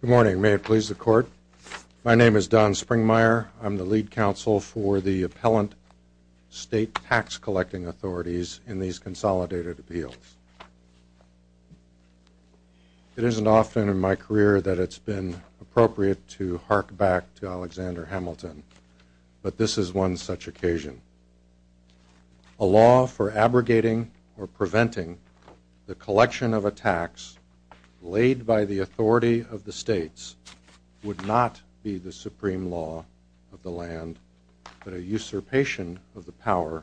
Good morning. May it please the Court. My name is Don Springmeyer. I'm the lead counsel for the appellant state tax collecting authorities in these consolidated appeals. It isn't often in my career that it's been appropriate to hark back to Alexander Hamilton, but this is one such occasion. A law for abrogating or preventing the collection of a tax laid by the authority of the states would not be the supreme law of the land but a usurpation of the power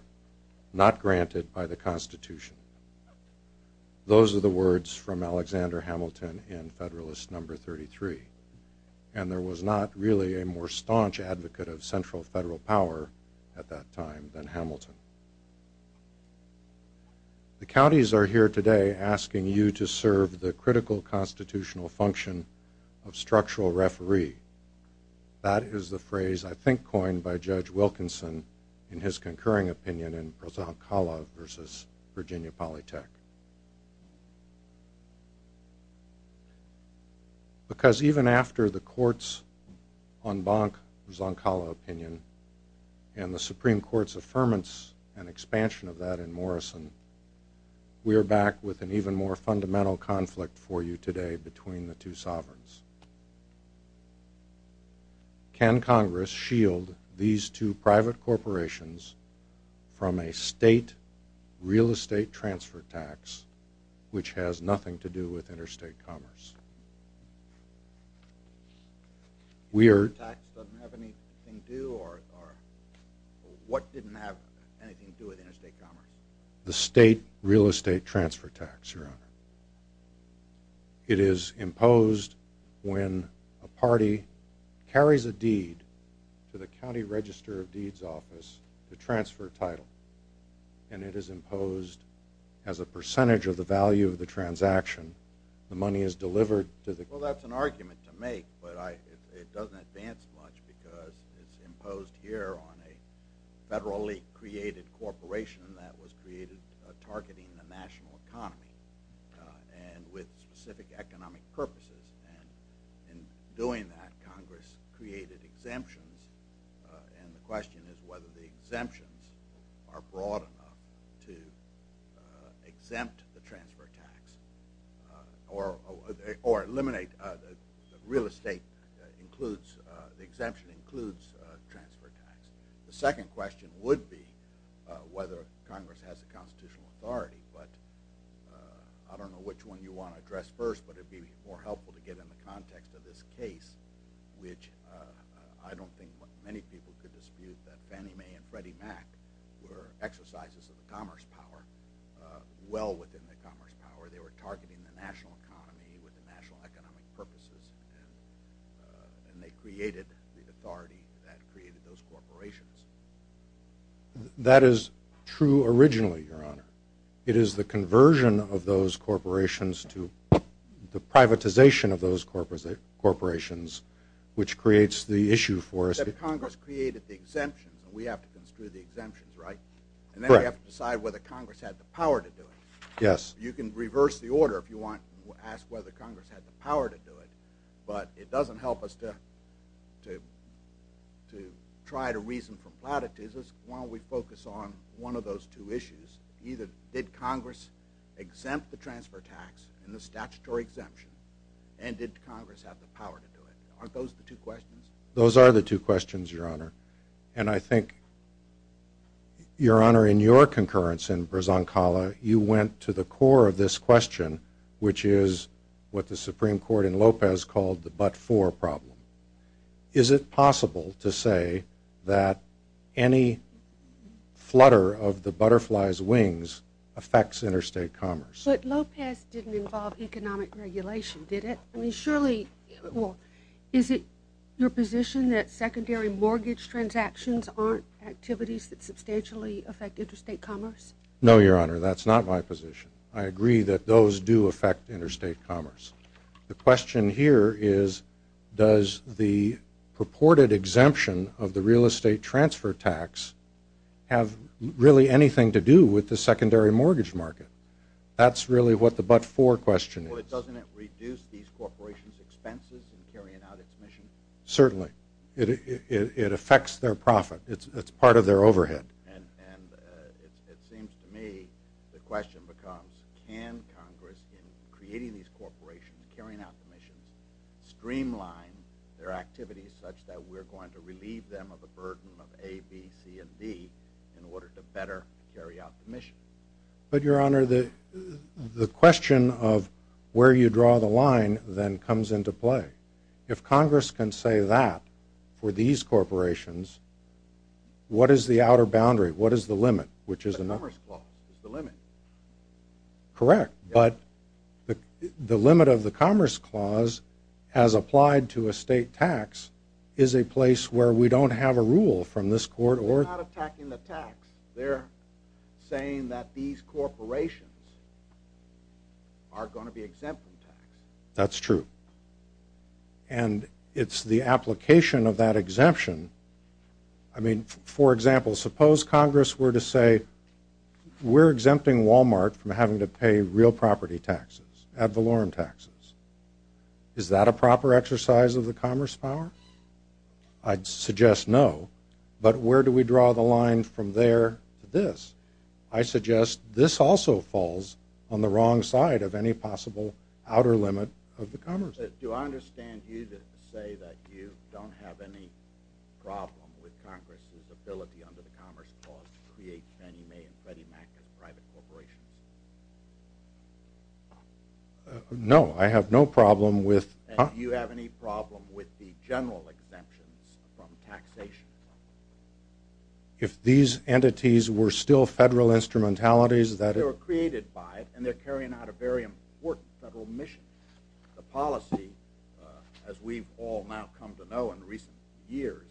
not granted by the Constitution. Those are the words from Alexander Hamilton in Federalist No. 33, and there was not really a more staunch advocate of central federal power at that time than Hamilton. The counties are here today asking you to serve the critical constitutional function of structural referee. That is the phrase I think coined by Judge Wilkinson in his concurring opinion in Prozoncola v. Virginia Polytech. Because even after the court's en banc Prozoncola opinion and the Supreme Court's affirmance and expansion of that in Morrison, we are back with an even more fundamental conflict for you today between the two sovereigns. Can Congress shield these two private corporations from a state real-estate transfer tax which has nothing to do with interstate commerce? The state real-estate transfer tax, Your Honor. It is imposed when a party carries a deed to the county register of deeds office to transfer a title, and it is imposed as a percentage of the value of the transaction. The money is delivered to the county register. Well, that's an argument to make, but it doesn't advance much because it's imposed here on a federally-created corporation that was created targeting the national economy and with specific economic purposes. In doing that, Congress created exemptions, and the question is whether the exemptions are broad enough to exempt the transfer tax or eliminate real estate includes, the exemption includes transfer tax. The second question would be whether Congress has a constitutional authority, but I don't know which one you want to address first, but it would be more helpful to get in the context of this case which I don't think many people could dispute that Fannie Mae and Freddie Mac were exercises of the commerce power, well within the commerce power. They were targeting the national economy with the national economic purposes, and they created the authority that created those corporations. That is true originally, Your Honor. It is the conversion of those corporations to the national economy. That is true originally, Your Honor. But Congress created the exemptions, and we have to construe the exemptions, right? Correct. And then we have to decide whether Congress had the power to do it. Yes. You can reverse the order if you want, ask whether Congress had the power to do it, but it doesn't help us to try to reason from platitudes. Why don't we focus on one of those two issues, either did Congress exempt the transfer tax and the statutory exemption, and did Congress have the power to do it? Aren't those the two questions? Those are the two questions, Your Honor. And I think, Your Honor, in your concurrence in Brazancala, you went to the core of this question, which is what the Supreme Court in Lopez called the but-for problem. Is it possible to say that any flutter of the butterfly's wings affects interstate commerce? But Lopez didn't involve economic regulation, did it? I mean, surely, well, is it your position that secondary mortgage transactions aren't activities that substantially affect interstate commerce? No, Your Honor, that's not my position. I agree that those do affect interstate commerce. The question here is, does the purported exemption of the real estate transfer tax have really anything to do with the secondary mortgage market? That's really what the but-for question is. Well, doesn't it reduce these corporations' expenses in carrying out its mission? Certainly. It affects their profit. It's part of their overhead. And it seems to me the question becomes, can Congress, in creating these corporations, carrying out the missions, streamline their activities such that we're going to relieve them of the burden of A, B, C, and D in order to better carry out the mission? But, Your Honor, the question of where you draw the line then comes into play. If Congress can say that for these corporations, what is the outer boundary? What is the limit, which is another? The Commerce Clause is the limit. Correct, but the limit of the Commerce Clause, as applied to a state tax, is a place where we don't have a rule from this court or... They're not attacking the tax. They're saying that these corporations are going to be exempt from tax. That's true. And it's the application of that exemption. I mean, for example, suppose Congress were to say, we're exempting Walmart from having to pay real property taxes, ad valorem taxes. Is that a proper exercise of the Commerce Clause? I'd suggest no, but where do we draw the line from there to this? I suggest this also falls on the wrong side of any possible outer limit of the Commerce Clause. Do I understand you to say that you don't have any problem with Congress's ability under the Commerce Clause to create Fannie Mae and Freddie Mac as private corporations? No, I have no problem with... And do you have any problem with the general exemptions from taxation? If these entities were still federal instrumentalities that... They were created by it, and they're carrying out a very important federal mission. The policy, as we've all now come to know in recent years,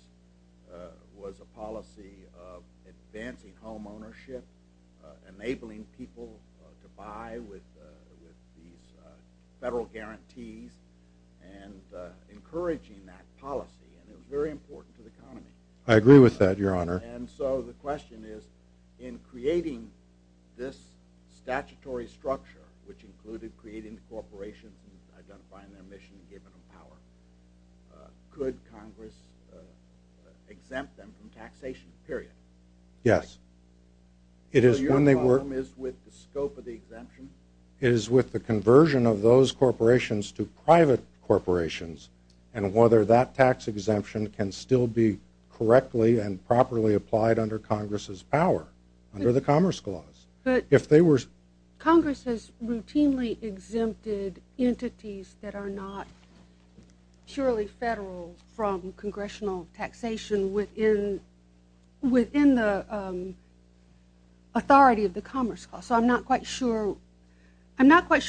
was a policy of advancing home ownership, enabling people to buy with these federal guarantees, and encouraging that policy. And it was very important to the economy. I agree with that, Your Honor. And so the question is, in creating this statutory structure, which included creating the corporations and identifying their mission and giving them power, could Congress exempt them from taxation, period? Yes. So your problem is with the scope of the exemption? It is with the conversion of those corporations to private corporations, and whether that tax exemption can still be correctly and properly applied under Congress's power, under the Commerce Clause. But Congress has routinely exempted entities that are not purely federal from congressional taxation within the authority of the Commerce Clause. So I'm not quite sure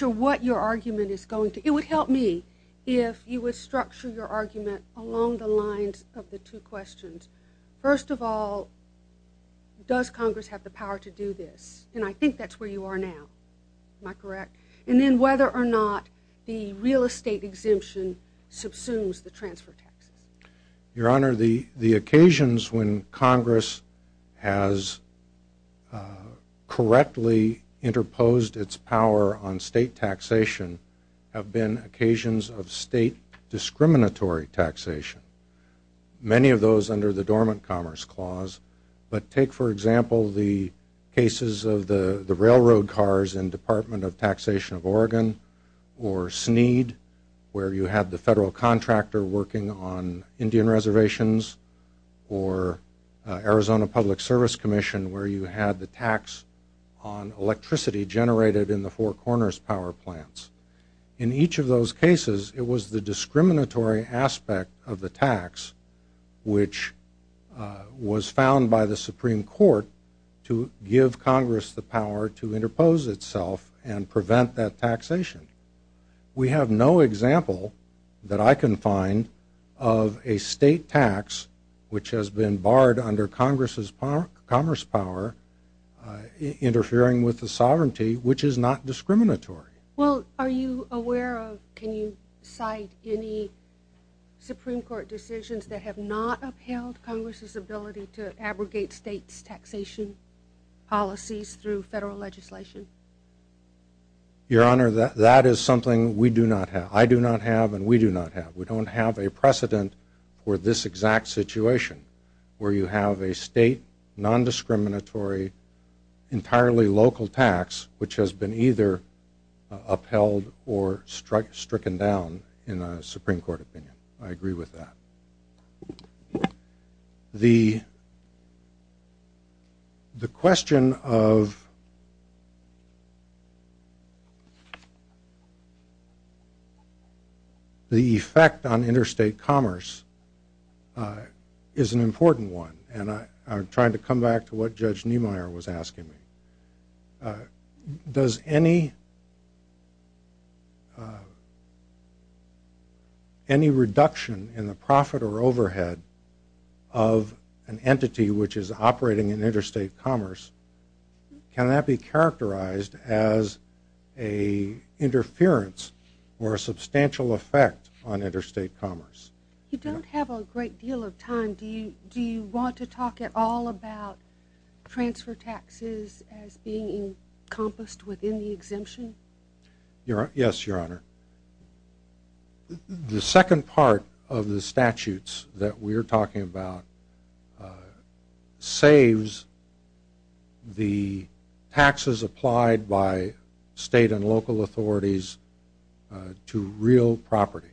what your argument is going to... It would help me if you would structure your argument along the lines of the two questions. First of all, does Congress have the power to do this? And I think that's where you are now. Am I correct? And then whether or not the real estate exemption subsumes the transfer taxes. Your Honor, the occasions when Congress has correctly interposed its power on state taxation have been occasions of state discriminatory taxation. Many of those under the Dormant Commerce Clause. But take, for example, the cases of the railroad cars in Department of Indian Reservations or Arizona Public Service Commission where you had the tax on electricity generated in the Four Corners power plants. In each of those cases, it was the discriminatory aspect of the tax which was found by the Supreme Court to give Congress the power to interpose itself and prevent that taxation. We have no example that I can find of a state tax which has been barred under Congress's commerce power interfering with the sovereignty which is not discriminatory. Well, are you aware of, can you cite any Supreme Court decisions that have not upheld Congress's ability to abrogate states' taxation policies through federal legislation? Your Honor, that is something we do not have. I do not have and we do not have. We don't have a precedent for this exact situation where you have a state, non-discriminatory, entirely local tax which has been either upheld or stricken down in a Supreme Court opinion. I agree with that. The question of the effect on interstate commerce is an important one and I'm trying to come profit or overhead of an entity which is operating in interstate commerce. Can that be characterized as a interference or a substantial effect on interstate commerce? You don't have a great deal of time. Do you want to talk at all about transfer taxes as being encompassed within the exemption? Yes, Your Honor. The second part of the statutes that we are talking about saves the taxes applied by state and local authorities to real property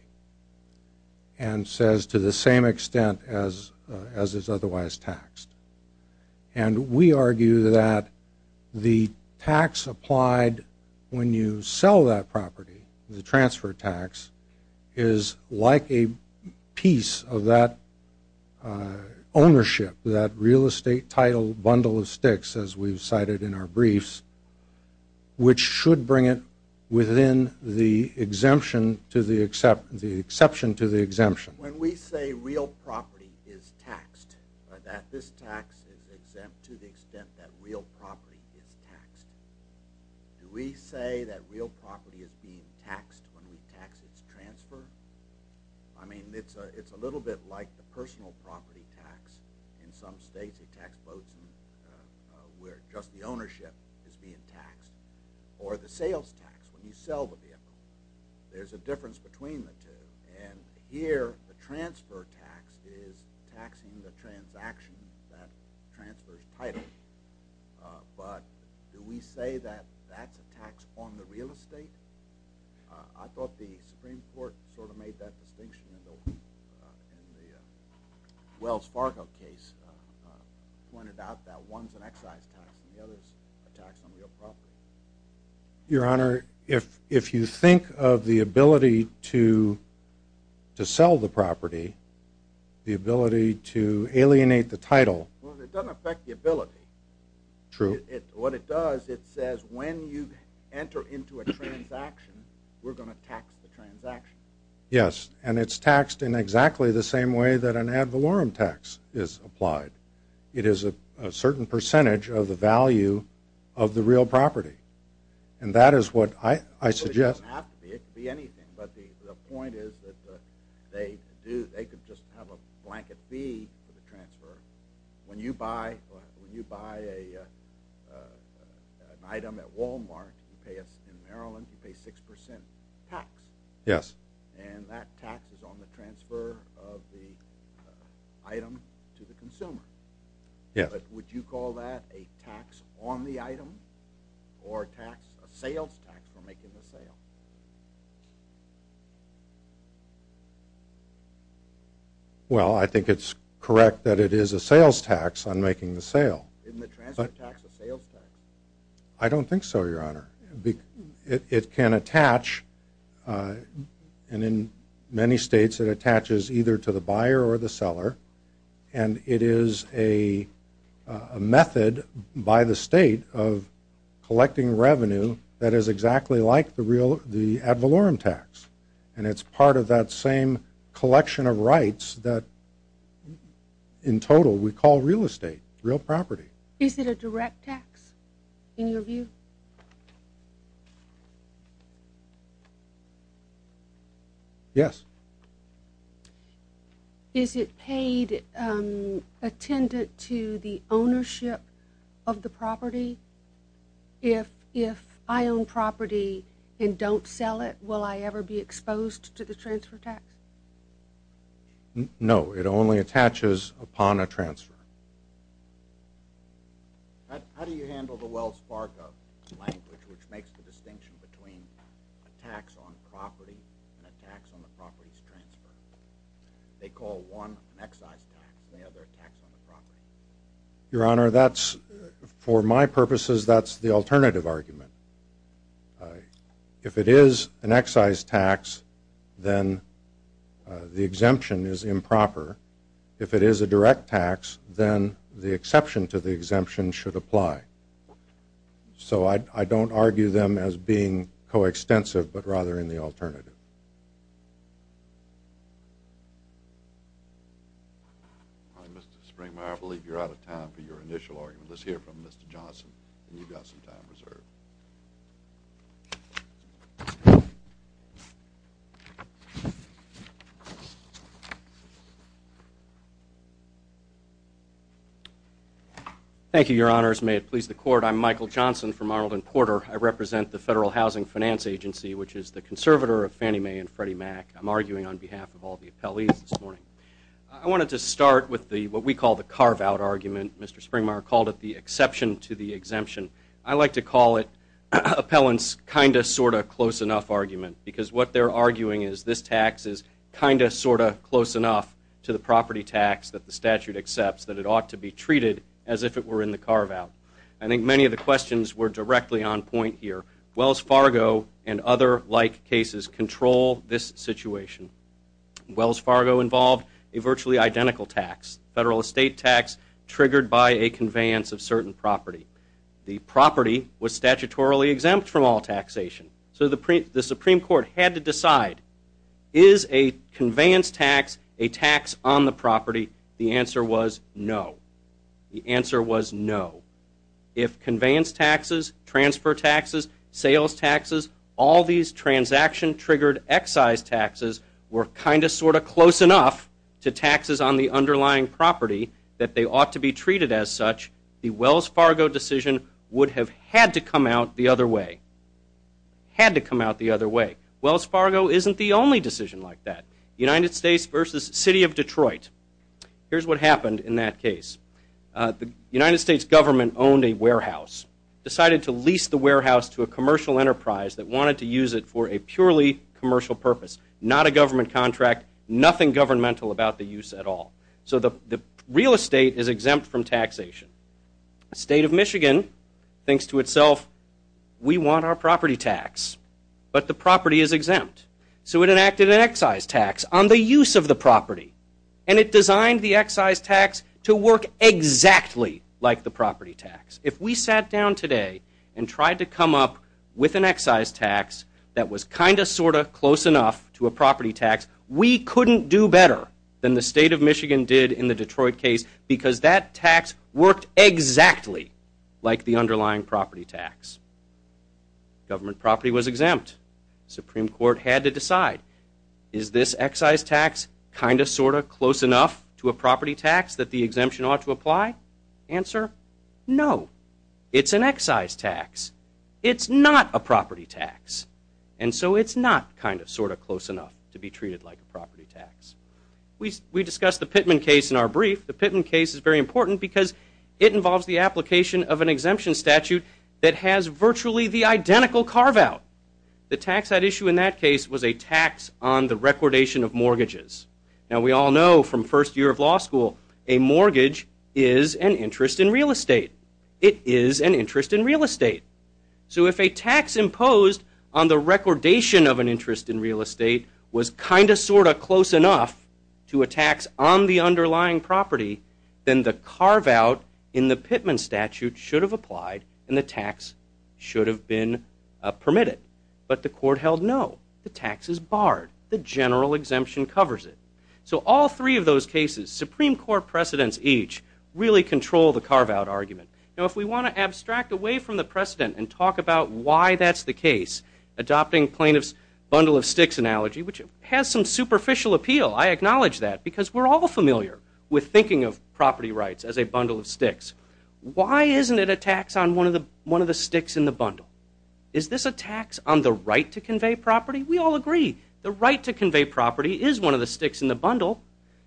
and says to the same extent as is otherwise taxed. We argue that the tax applied when you sell that property, the transfer tax, is like a piece of that ownership, that real estate title bundle of sticks as we've cited in our briefs, which should bring it within the exception to the exemption. When we say real property is taxed, that this tax is exempt to the extent that real property is taxed, do we say that real property is being taxed when we tax its transfer? I mean, it's a little bit like the personal property tax. In some states, they tax boats where just the ownership is being taxed or the sales tax when you sell the vehicle. There's a difference between the two. And here, the transfer tax is taxing the transaction that transfers title. But do we say that that's a tax on the real estate? I thought the Supreme Court sort of made that distinction in the Wells Fargo case, pointed out that one's an excise tax and the other's a tax on real property. Your Honor, if you think of the ability to sell the property, the ability to alienate the title. Well, it doesn't affect the ability. True. What it does, it says when you enter into a transaction, we're going to tax the transaction. Yes, and it's taxed in exactly the same way that an ad valorem tax is applied. It is a certain percentage of the value of the real property. And that is what I suggest. It could be anything, but the point is that they could just have a blanket fee for the transfer. When you buy an item at Wal-Mart in Maryland, you pay 6% tax. Yes. And that tax is on the transfer of the item to the seller or a sales tax for making the sale. Well, I think it's correct that it is a sales tax on making the sale. Isn't the transfer tax a sales tax? I don't think so, Your Honor. It can attach, and in many states it attaches either to the buyer or the seller, and it is a method by the state of collecting revenue that is exactly like the ad valorem tax. And it's part of that same collection of rights that in total we call real estate, real property. Is it a direct tax in your view? Yes. Is it paid attendant to the ownership of the property? If I own property and don't sell it, will I ever be exposed to the transfer tax? No. It only attaches upon a transfer. How do you handle the Wells Fargo language which makes the distinction between a tax on property and a tax on the property's transfer? They call one an excise tax and the other a tax on the property. Your Honor, for my purposes that's the alternative argument. If it is an excise tax, then the exemption is improper. If it is a direct tax, then the exception to the exemption should apply. So I don't argue them as being coextensive, but rather in the alternative. All right, Mr. Springmeyer, I believe you're out of time for your initial argument. Let's hear from Mr. Johnson. You've got some time reserved. Thank you, Your Honors. May it please the Court, I'm Michael Johnson from Arlington Porter. I represent the Federal Housing Finance Agency, which is the conservator of Fannie Mae and Freddie Mac. I'm arguing on behalf of all the appellees this morning. I wanted to start with what we call the carve-out argument. Mr. Springmeyer called it the exception to the exemption. I like to call it appellants' kind of, sort of, close enough argument because what they're arguing is this tax is kind of, sort of, close enough to the property tax that the statute accepts that it ought to be treated as if it were in the carve-out. I think many of the questions were directly on point here. Wells Fargo and other like cases control this situation. Wells Fargo involved a virtually identical tax, federal estate tax triggered by a conveyance of certain property. The property was statutorily exempt from all taxation. So the Supreme Court had to decide, is a conveyance tax a tax on the property? If conveyance taxes, transfer taxes, sales taxes, all these transaction-triggered excise taxes were kind of, sort of, close enough to taxes on the underlying property that they ought to be treated as such, the Wells Fargo decision would have had to come out the other way. Had to come out the other way. Wells Fargo isn't the only decision like that. United States versus City of Detroit. Here's what happened in that case. The United States government owned a warehouse. Decided to lease the warehouse to a commercial enterprise that wanted to use it for a purely commercial purpose. Not a government contract. Nothing governmental about the use at all. So the real estate is exempt from taxation. The state of Michigan thinks to itself, we want our property tax. But the property is exempt. So it enacted an excise tax on the use of the property. And it designed the excise tax to work exactly like the property tax. If we sat down today and tried to come up with an excise tax that was kind of, sort of, close enough to a property tax, we couldn't do better than the state of Michigan did in the Detroit case because that tax worked exactly like the underlying property tax. Government property was exempt. Supreme Court had to decide, is this excise tax kind of, sort of, close enough to a property tax that the exemption ought to apply? Answer, no. It's an excise tax. It's not a property tax. And so it's not kind of, sort of, close enough to be treated like a property tax. We discussed the Pittman case in our brief. The Pittman case is very important because it involves the application of an exemption statute that has virtually the identical carve out. The tax that issue in that case was a tax on the recordation of mortgages. Now we all know from first year of law school a mortgage is an interest in real estate. It is an interest in real estate. So if a tax imposed on the recordation of an interest in real estate was kind of, sort of, close enough to a tax on the underlying property, then the carve out in the Pittman statute should have applied and the tax should have been permitted. But the court held no. The tax is barred. The general exemption covers it. So all three of those cases, Supreme Court precedents each, really control the carve out argument. Now if we want to abstract away from the precedent and talk about why that's the case, adopting plaintiff's bundle of sticks analogy, which has some superficial appeal, I acknowledge that because we're all familiar with thinking of property rights as a bundle of sticks. Why isn't it a tax on one of the sticks in the bundle? Is this a tax on the right to convey property? We all agree the right to convey property is one of the sticks in the bundle.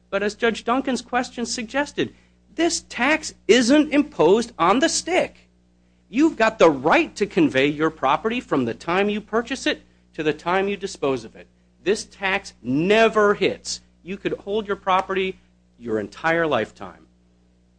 But as Judge Duncan's question suggested, this tax isn't imposed on the stick. You've got the right to convey your property from the time you purchase it to the time you dispose of it. This tax never hits. You could hold your property your entire lifetime.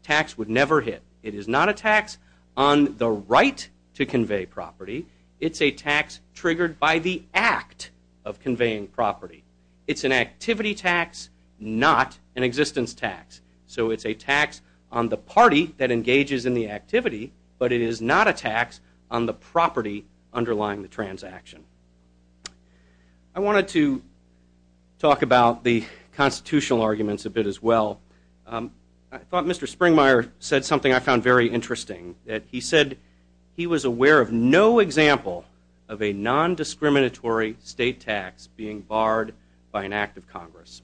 Tax would never hit. It is not a tax on the right to convey property. It's a tax triggered by the act of conveying property. It's an activity tax, not an existence tax. So it's a tax on the party that engages in the activity, but it is not a tax on the property underlying the transaction. I wanted to talk about the constitutional arguments a bit as well. I thought Mr. Springmeyer said something I found very interesting. He said he was aware of no example of a nondiscriminatory state tax being barred by an act of Congress.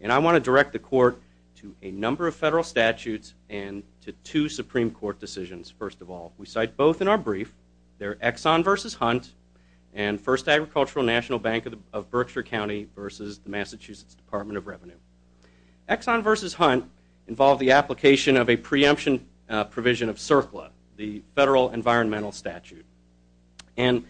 And I want to direct the court to a number of federal statutes and to two Supreme Court decisions, first of all. We cite both in our case. And first Agricultural National Bank of Berkshire County versus the Massachusetts Department of Revenue. Exxon versus Hunt involved the application of a preemption provision of CERCLA, the Federal Environmental Statute. And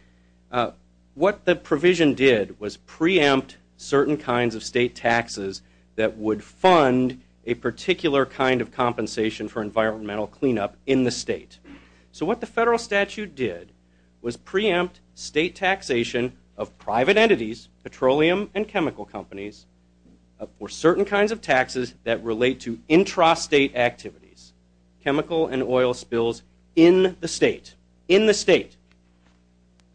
what the provision did was preempt certain kinds of state taxes that would fund a particular kind of compensation for environmental cleanup in the state. So what the federal statute did was preempt state taxation of private entities, petroleum and chemical companies, for certain kinds of taxes that relate to intrastate activities, chemical and oil spills in the state, in the state.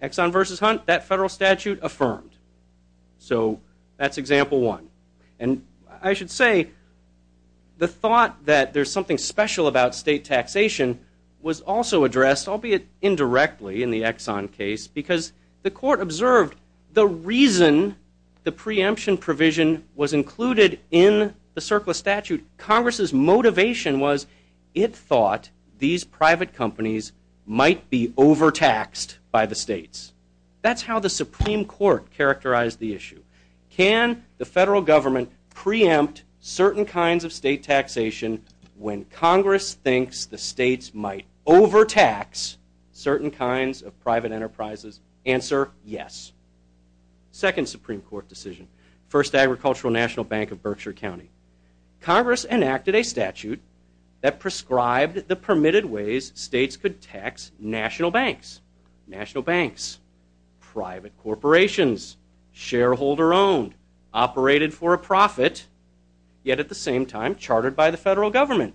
Exxon versus Hunt, that federal statute affirmed. So that's example one. And I should say the thought that there's something special about state taxation was also addressed, albeit indirectly, in the Exxon case because the court observed the reason the preemption provision was included in the CERCLA statute. Congress' motivation was it thought these private companies might be overtaxed by the states. That's how the Supreme Court characterized the issue. Can the federal government preempt certain kinds of state taxation when Congress thinks the states might overtax certain kinds of private enterprises? Answer, yes. Second Supreme Court decision. First Agricultural National Bank of Berkshire County. Congress enacted a statute that prescribed the permitted ways states could tax national banks. National banks, private corporations, shareholder owned, operated for a profit, yet at the same time chartered by the federal government.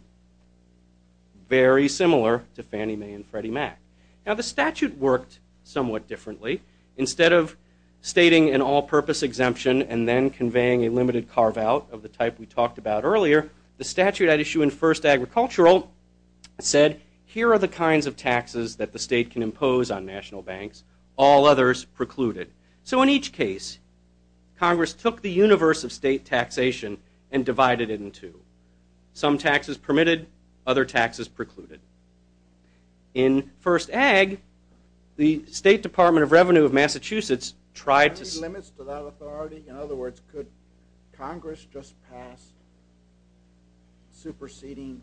Very similar to Fannie Mae and Freddie Mac. Now the statute worked somewhat differently. Instead of stating an all-purpose exemption and then conveying a limited carve out of the type we talked about earlier, the statute at issue in First Agricultural said, here are the kinds of taxes that the state can impose on national banks. All others precluded. So in each case, Congress took the universe of state taxation and divided it in two. Some taxes permitted, other taxes precluded. In First Ag, the State Department of Revenue of Massachusetts tried to- Are there limits to that authority? In other words, could Congress just pass superseding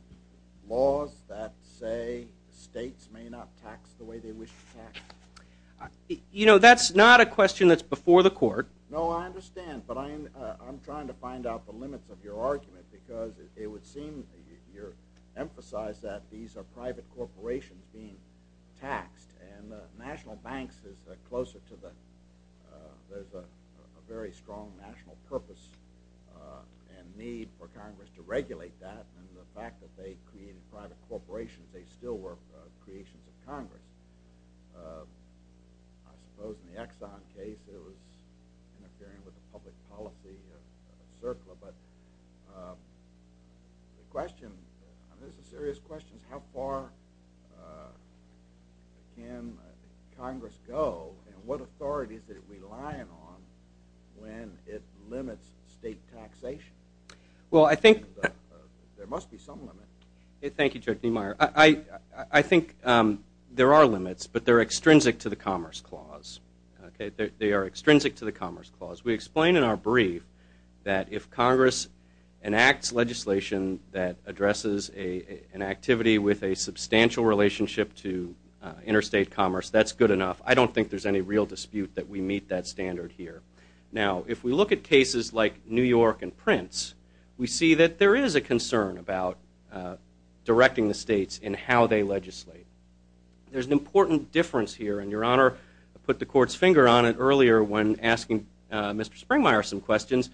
laws that say states may not tax the way they wish to tax? You know, that's not a question that's before the court. No, I understand. But I'm trying to find out the limits of your argument because it would seem you emphasize that these are private corporations being taxed and national banks is closer to the- there's a very strong national purpose and need for Congress to regulate that. And the fact that they created private corporations, they still were creations of Congress. I suppose in the Exxon case, it was interfering with the public policy of CERCLA. But the question, this is a serious question, is how far can Congress go and what authorities is it relying on when it limits state taxation? Well, I think- There must be some limit. Thank you, Judge Niemeyer. I think there are limits, but they're extrinsic to the Commerce Clause. They are extrinsic to the Commerce Clause. We explain in our brief that if Congress enacts legislation that addresses an activity with a substantial relationship to interstate commerce, that's good enough. I don't think there's any real dispute that we meet that We see that there is a concern about directing the states in how they legislate. There's an important difference here. And, Your Honor, I put the court's finger on it earlier when asking Mr. Springmeyer some questions.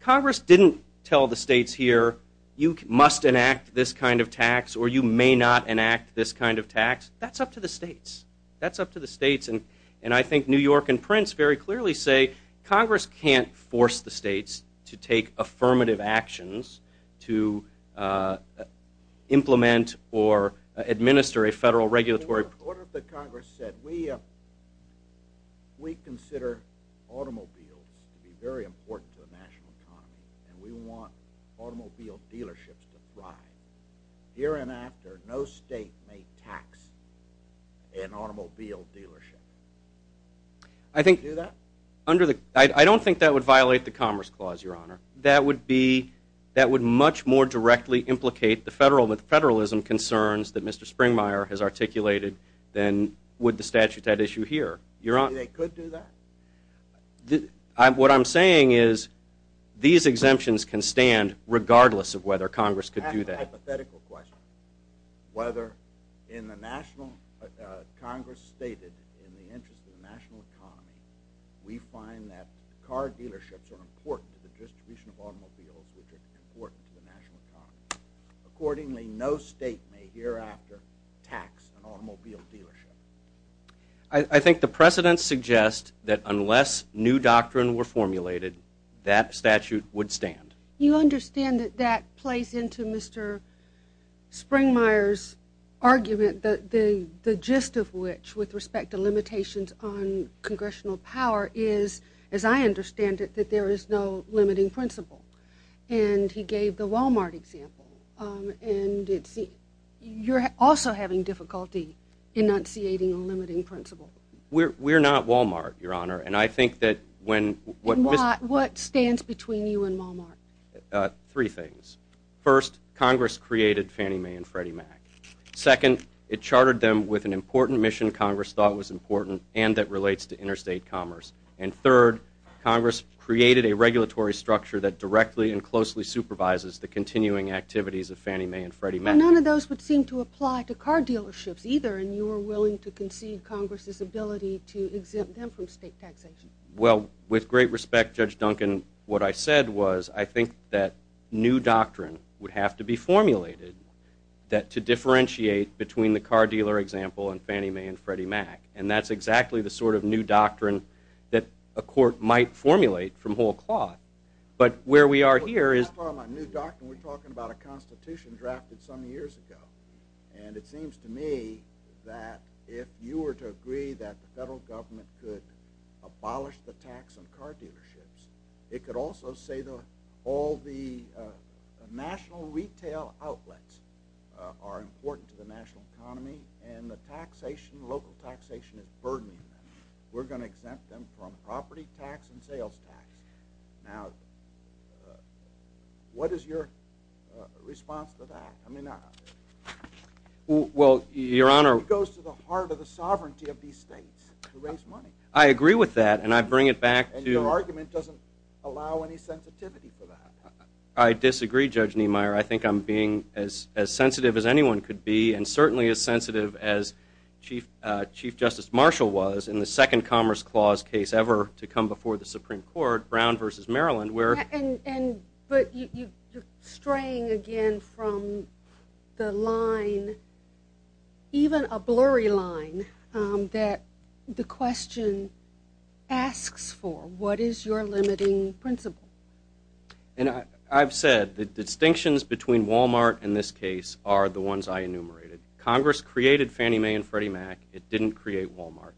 Congress didn't tell the states here, you must enact this kind of tax or you may not enact this kind of tax. That's up to the states. That's up to the states. And I think New York and Prince very clearly say Congress can't force the states to take affirmative actions to implement or administer a federal regulatory program. In the order that Congress said, we consider automobiles to be very important to the national economy and we want automobile dealerships to thrive. Here and after, no state may tax an automobile dealership. I think- Would you do that? I don't think that would violate the Commerce Clause, Your Honor. That would much more directly implicate the federalism concerns that Mr. Springmeyer has articulated than would the statute that issue here. They could do that? What I'm saying is these exemptions can stand regardless of whether Congress could do that. I have a hypothetical question. Whether in the national- Congress stated in the interest of the national economy, we find that car dealerships are important to the distribution of automobiles which are important to the national economy. Accordingly, no state may hereafter tax an automobile dealership. I think the precedents suggest that unless new doctrine were formulated, that statute would stand. You understand that that plays into Mr. Springmeyer's argument that the gist of which with respect to limitations on congressional power is, as I understand it, that there is no limiting principle. And he gave the Walmart example. And you're also having difficulty enunciating a limiting principle. We're not Walmart, Your Honor. And I think that when- What stands between you and Walmart? Three things. First, Congress created Fannie Mae and Freddie Mac. Second, it chartered them with an important mission Congress thought was important and that relates to interstate commerce. And third, Congress created a regulatory structure that directly and closely supervises the continuing activities of Fannie Mae and Freddie Mac. But none of those would seem to apply to car dealerships either. And you are willing to concede Congress's ability to exempt them from state taxation. Well, with great respect, Judge Duncan, what I said was I think that new doctrine would have to be formulated to differentiate between the car dealer example and Fannie Mae and Freddie Mac. And that's exactly the sort of new doctrine that a court might formulate from whole cloth. But where we are here is- Well, when I talk about new doctrine, we're talking about a constitution drafted some years ago. And it seems to me that if you were to agree that the federal government could abolish the tax on car dealerships, it could also say that all the national retail outlets are important to the national economy and the taxation, local taxation is burdening them. We're going to exempt them from property tax and sales tax. Now, what is your response to that? I mean- Well, Your Honor- I agree with that. And I bring it back to- And your argument doesn't allow any sensitivity for that. I disagree, Judge Niemeyer. I think I'm being as sensitive as anyone could be and certainly as sensitive as Chief Justice Marshall was in the second Commerce Clause case ever to come before the Supreme Court, Brown v. Maryland, where- But you're straying again from the line, even a blurry line, that the question asks for. What is your limiting principle? And I've said that the distinctions between Walmart and this case are the ones I enumerated. Congress created Fannie Mae and Freddie Mac. It didn't create Walmart.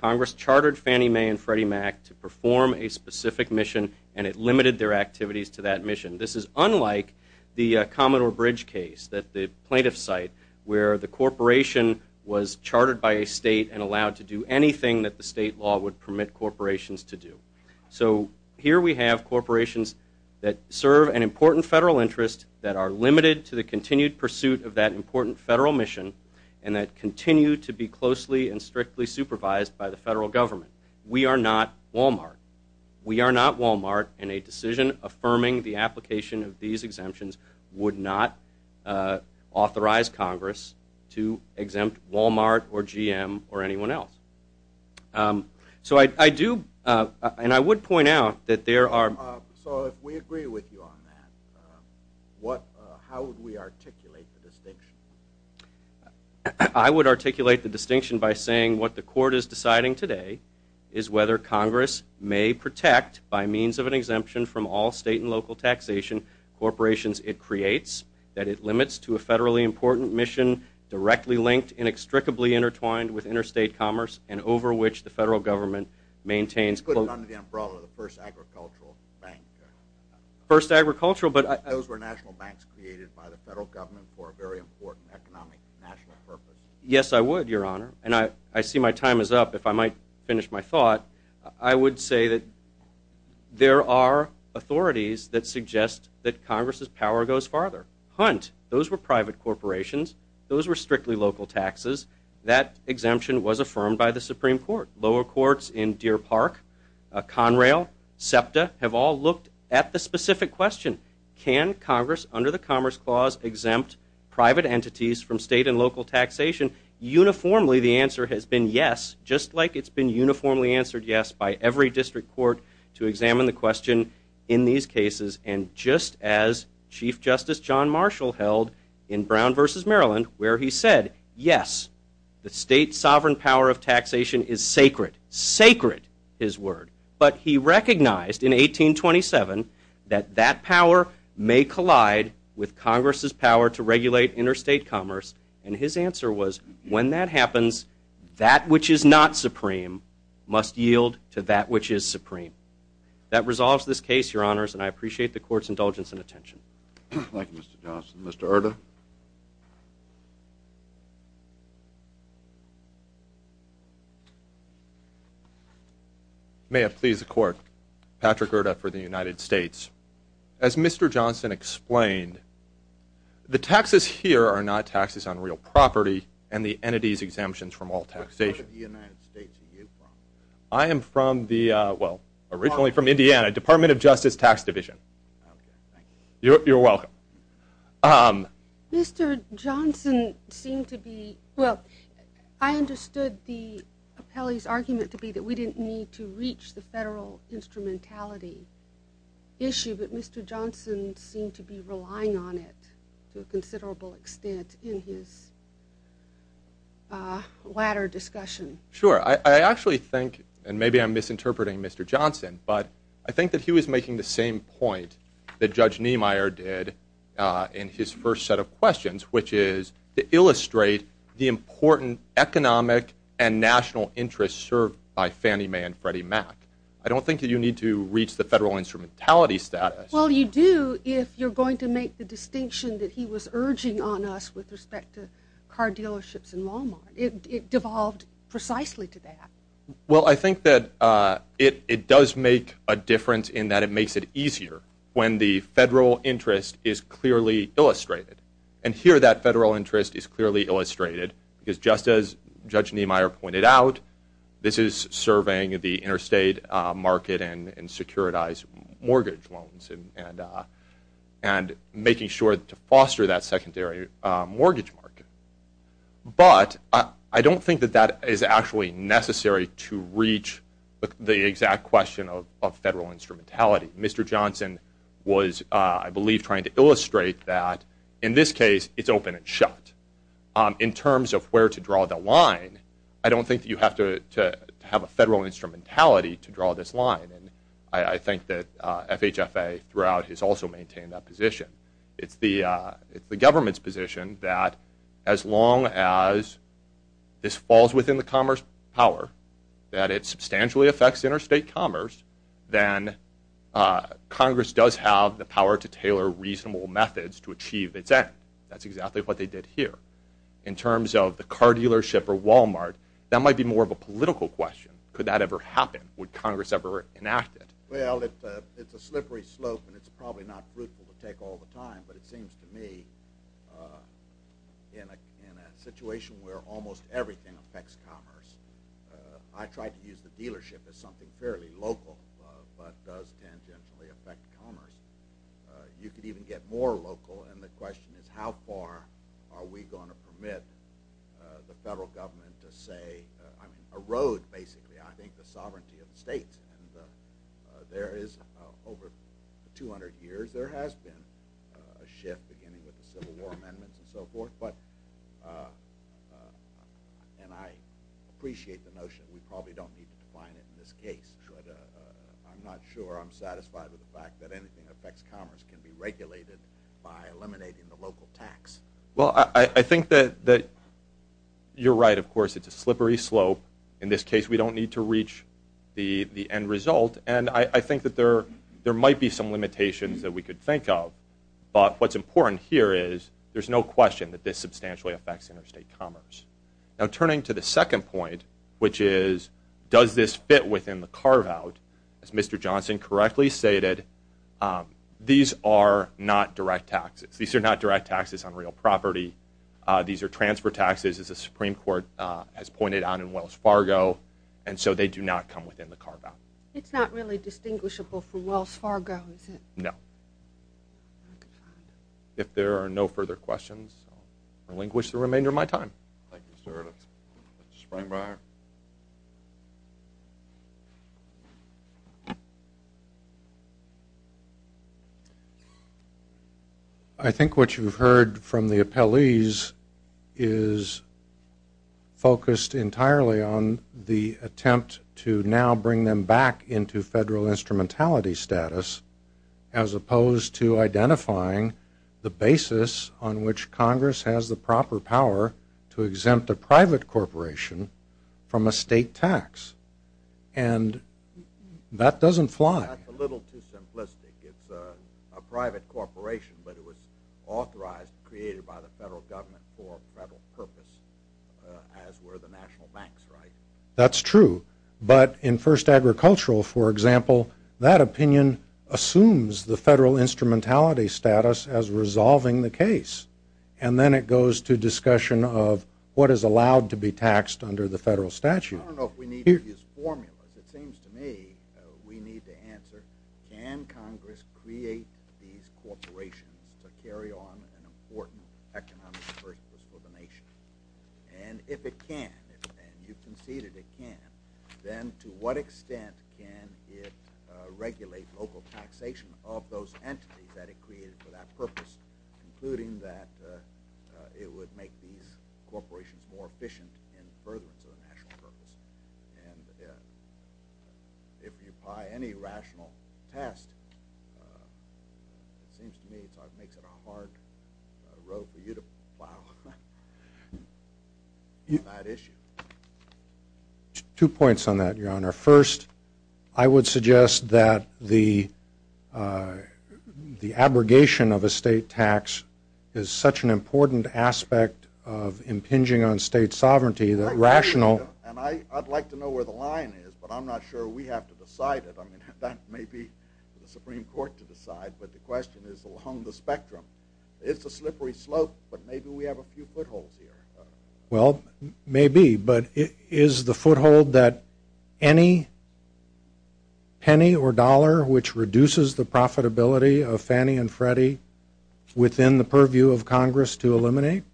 Congress chartered Fannie Mae and Freddie Mac to perform a specific mission and it limited their activities to that mission. This is unlike the Commodore Bridge case, the plaintiff's site, where the corporation was chartered by a state and allowed to do anything that the state law would permit corporations to do. So here we have corporations that serve an important federal interest that are limited to the continued pursuit of that important federal mission and that continue to be closely and strictly supervised by the federal government. We are not Walmart. We are not Walmart and a decision affirming the application of these exemptions would not authorize Congress to exempt Walmart or GM or anyone else. So I do, and I would point out that there are- So if we agree with you on that, how would we articulate the distinction? I would articulate the distinction by saying what the court is deciding today is whether Congress may protect by means of an exemption from all state and local taxation corporations it creates, that it limits to a federally important mission directly linked, inextricably intertwined with interstate commerce and over which the federal government maintains- Put it under the umbrella of the first agricultural bank. First agricultural, but- Those were national banks created by the federal government for a very important economic national purpose. Yes, I would, Your Honor, and I see my time is up. If I might finish my thought, I would say that there are authorities that suggest that Congress's power goes farther. Hunt, those were private corporations. Those were strictly local taxes. That exemption was affirmed by the Supreme Court. Lower courts in Deer Park, Conrail, SEPTA have all looked at the fact that Congress, under the Commerce Clause, exempt private entities from state and local taxation. Uniformly, the answer has been yes, just like it's been uniformly answered yes by every district court to examine the question in these cases and just as Chief Justice John Marshall held in Brown v. Maryland where he said, yes, the state sovereign power of taxation is sacred, sacred, his word. But he recognized in 1827 that that power may collide with Congress's power to regulate interstate commerce, and his answer was, when that happens, that which is not supreme must yield to that which is supreme. That resolves this case, Your Honors, and I appreciate the court's indulgence and attention. Thank you, Mr. Johnson. Mr. Erda? May it please the Court, Patrick Erda for the United States. As Mr. Johnson explained, the taxes here are not taxes on real property and the entities exemptions from all taxation. Where in the United States are you from? I am from the, well, originally from Indiana, Department of Justice Tax Division. You're welcome. Mr. Johnson seemed to be, well, I understood the appellee's argument to be that we didn't need to reach the federal instrumentality issue, but Mr. Johnson seemed to be relying on it to a considerable extent in his latter discussion. Sure, I actually think, and maybe I'm misinterpreting Mr. Johnson, but I think that he was making the same point that Judge Niemeyer did in his first set of questions, which is to illustrate the important economic and national interests served by Fannie Mae and Freddie Mac. I don't think that you need to reach the federal instrumentality status. Well, you do if you're going to make the distinction that he was urging on us with respect to car dealerships in Walmart. It devolved precisely to that. Well, I think that it does make a difference in that it makes it easier when the federal interest is clearly illustrated. And here that federal interest is clearly illustrated because just as Judge Niemeyer pointed out, this is serving the interstate market and securitized mortgage loans and making sure to foster that secondary mortgage market. But I don't think that that is actually necessary to reach the exact question of federal instrumentality. Mr. Johnson was, I believe, trying to illustrate that in this case it's open and shut. In terms of where to draw the line, I don't think that you have to have a federal instrumentality to draw this line. And I think that FHFA throughout has also maintained that position. It's the government's position that as long as this falls within the commerce power, that it substantially affects interstate commerce, then Congress does have the power to tailor reasonable methods to achieve its end. That's exactly what they did here. In terms of the car dealership or Walmart, that might be more of a political question. Could that ever happen? Would Congress ever enact it? Well, it's a slippery slope and it's probably not fruitful to take all the time. But it seems to me in a situation where almost everything affects commerce, I tried to use the dealership as something fairly local but does tangentially affect commerce. You could even get more local and the question is how far are we going to permit the federal government to say, erode basically I think the sovereignty of the states. There is over 200 years there has been a shift beginning with the Civil War amendments and so forth. And I appreciate the notion that we probably don't need to define it in this case. But I'm not sure I'm satisfied with the fact that anything that affects commerce can be regulated by eliminating the local tax. Well, I think that you're right, of course, it's a slippery slope. In this case, we don't need to reach the end result. And I think that there might be some limitations that we could think of. But what's important here is there's no question that this substantially affects interstate commerce. Now, turning to the second point, which is does this fit within the carve-out, as Mr. Johnson correctly stated, these are not direct taxes. These are transfer taxes, as the Supreme Court has pointed out in Wells Fargo. And so they do not come within the carve-out. It's not really distinguishable for Wells Fargo, is it? No. If there are no further questions, I'll relinquish the remainder of my time. Thank you, sir. Mr. Springbriar. I think what you've heard from the appellees is focused entirely on the attempt to now bring them back into federal instrumentality status, as opposed to identifying the basis on which Congress has the proper power to exempt a private corporation from a state tax. And that doesn't fly. That's a little too simplistic. It's a private corporation, but it was authorized, created by the federal government for a federal purpose, as were the national banks, right? That's true. But in First Agricultural, for example, that opinion assumes the federal instrumentality status as resolving the case. And then it goes to discussion of what is allowed to be taxed under the federal statute. I don't know if we need to use formulas. It seems to me we need to answer, can Congress create these corporations to carry on an important economic purpose for the nation? And if it can, and you've conceded it can, then to what extent can it regulate local taxation of those entities that it created for that purpose, including that it would make these corporations more efficient in furtherance of the national purpose? And if you apply any rational test, it seems to me it makes it a hard road for you to plow on that issue. I would suggest that the abrogation of a state tax is such an important aspect of impinging on state sovereignty that rational... And I'd like to know where the line is, but I'm not sure we have to decide it. That may be the Supreme Court to decide, but the question is along the spectrum. It's a slippery slope, but maybe we have a few footholds here. Well, maybe, but is the foothold that any penny or dollar which reduces the profitability of Fannie and Freddie within the purview of Congress to eliminate?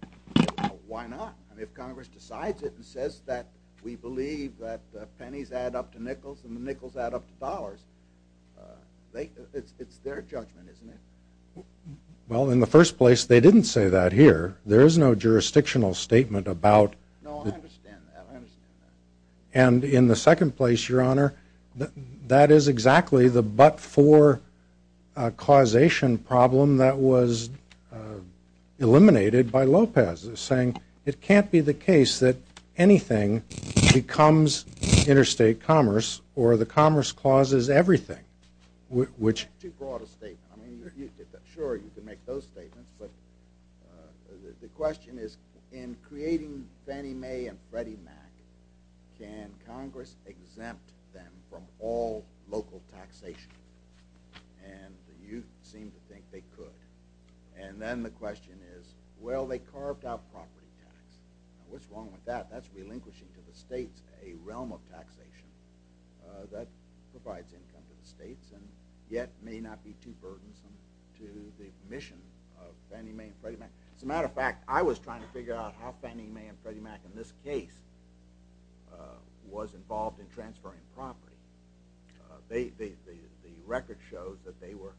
Why not? If Congress decides it and says that we believe that pennies add up to nickels and nickels add up to dollars, it's their judgment, isn't it? Well, in the first place, they didn't say that here. There is no jurisdictional statement about... No, I understand that. I understand that. And in the second place, Your Honor, that is exactly the but-for causation problem that was eliminated by Lopez, saying it can't be the case that anything becomes interstate commerce or the commerce clause is everything, which... Sure, you can make those statements, but the question is in creating Fannie Mae and Freddie Mac, can Congress exempt them from all local taxation? And you seem to think they could. And then the question is, well, they carved out property tax. What's wrong with that? That's relinquishing to the states a realm of taxation that provides income to the states and yet may not be too burdensome to the mission of Fannie Mae and Freddie Mac. As a matter of fact, I was trying to figure out how Fannie Mae and Freddie Mac, in this case, was involved in transferring property. The record shows that they were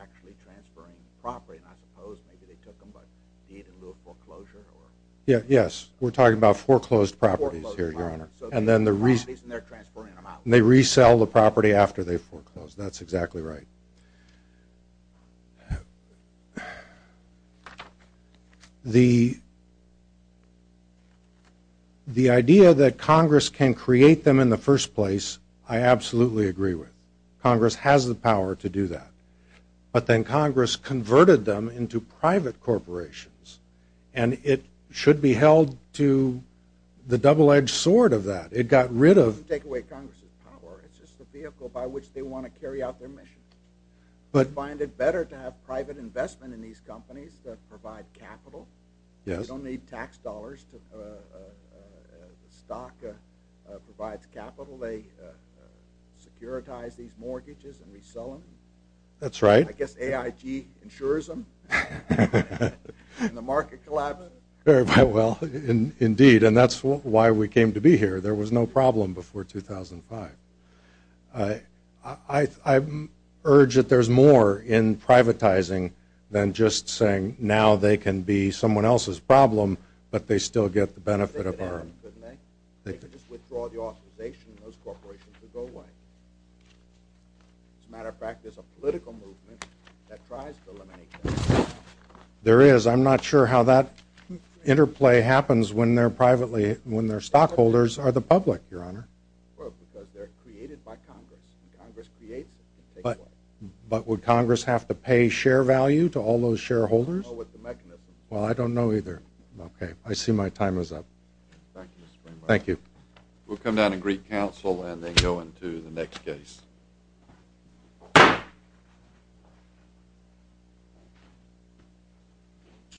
actually transferring property. And I suppose maybe they took them by deed in lieu of foreclosure or... Yes, we're talking about foreclosed properties here, Your Honor. Foreclosed properties, and they're transferring them out. They resell the property after they foreclose. That's exactly right. The idea that Congress can create them in the first place, I absolutely agree with. Congress has the power to do that. But then Congress converted them into private corporations, and it should be held to the double-edged sword of that. It got rid of... It doesn't take away Congress's power. It's just a vehicle by which they want to carry out their mission. But find it better to have private investment in these companies that provide capital. They don't need tax dollars. The stock provides capital. They securitize these mortgages and resell them. That's right. I guess AIG insures them. And the market collapses. Well, indeed, and that's why we came to be here. There was no problem before 2005. I urge that there's more in privatizing than just saying now they can be someone else's problem, but they still get the benefit of our... They could just withdraw the authorization of those corporations to go away. As a matter of fact, there's a political movement that tries to eliminate them. There is. I'm not sure how that interplay happens when their stockholders are the public, Your Honor. Well, because they're created by Congress. Congress creates it. But would Congress have to pay share value to all those shareholders? I don't know what the mechanism is. Well, I don't know either. Okay. I see my time is up. Thank you. We'll come down and greet counsel and then go into the next case. Thank you.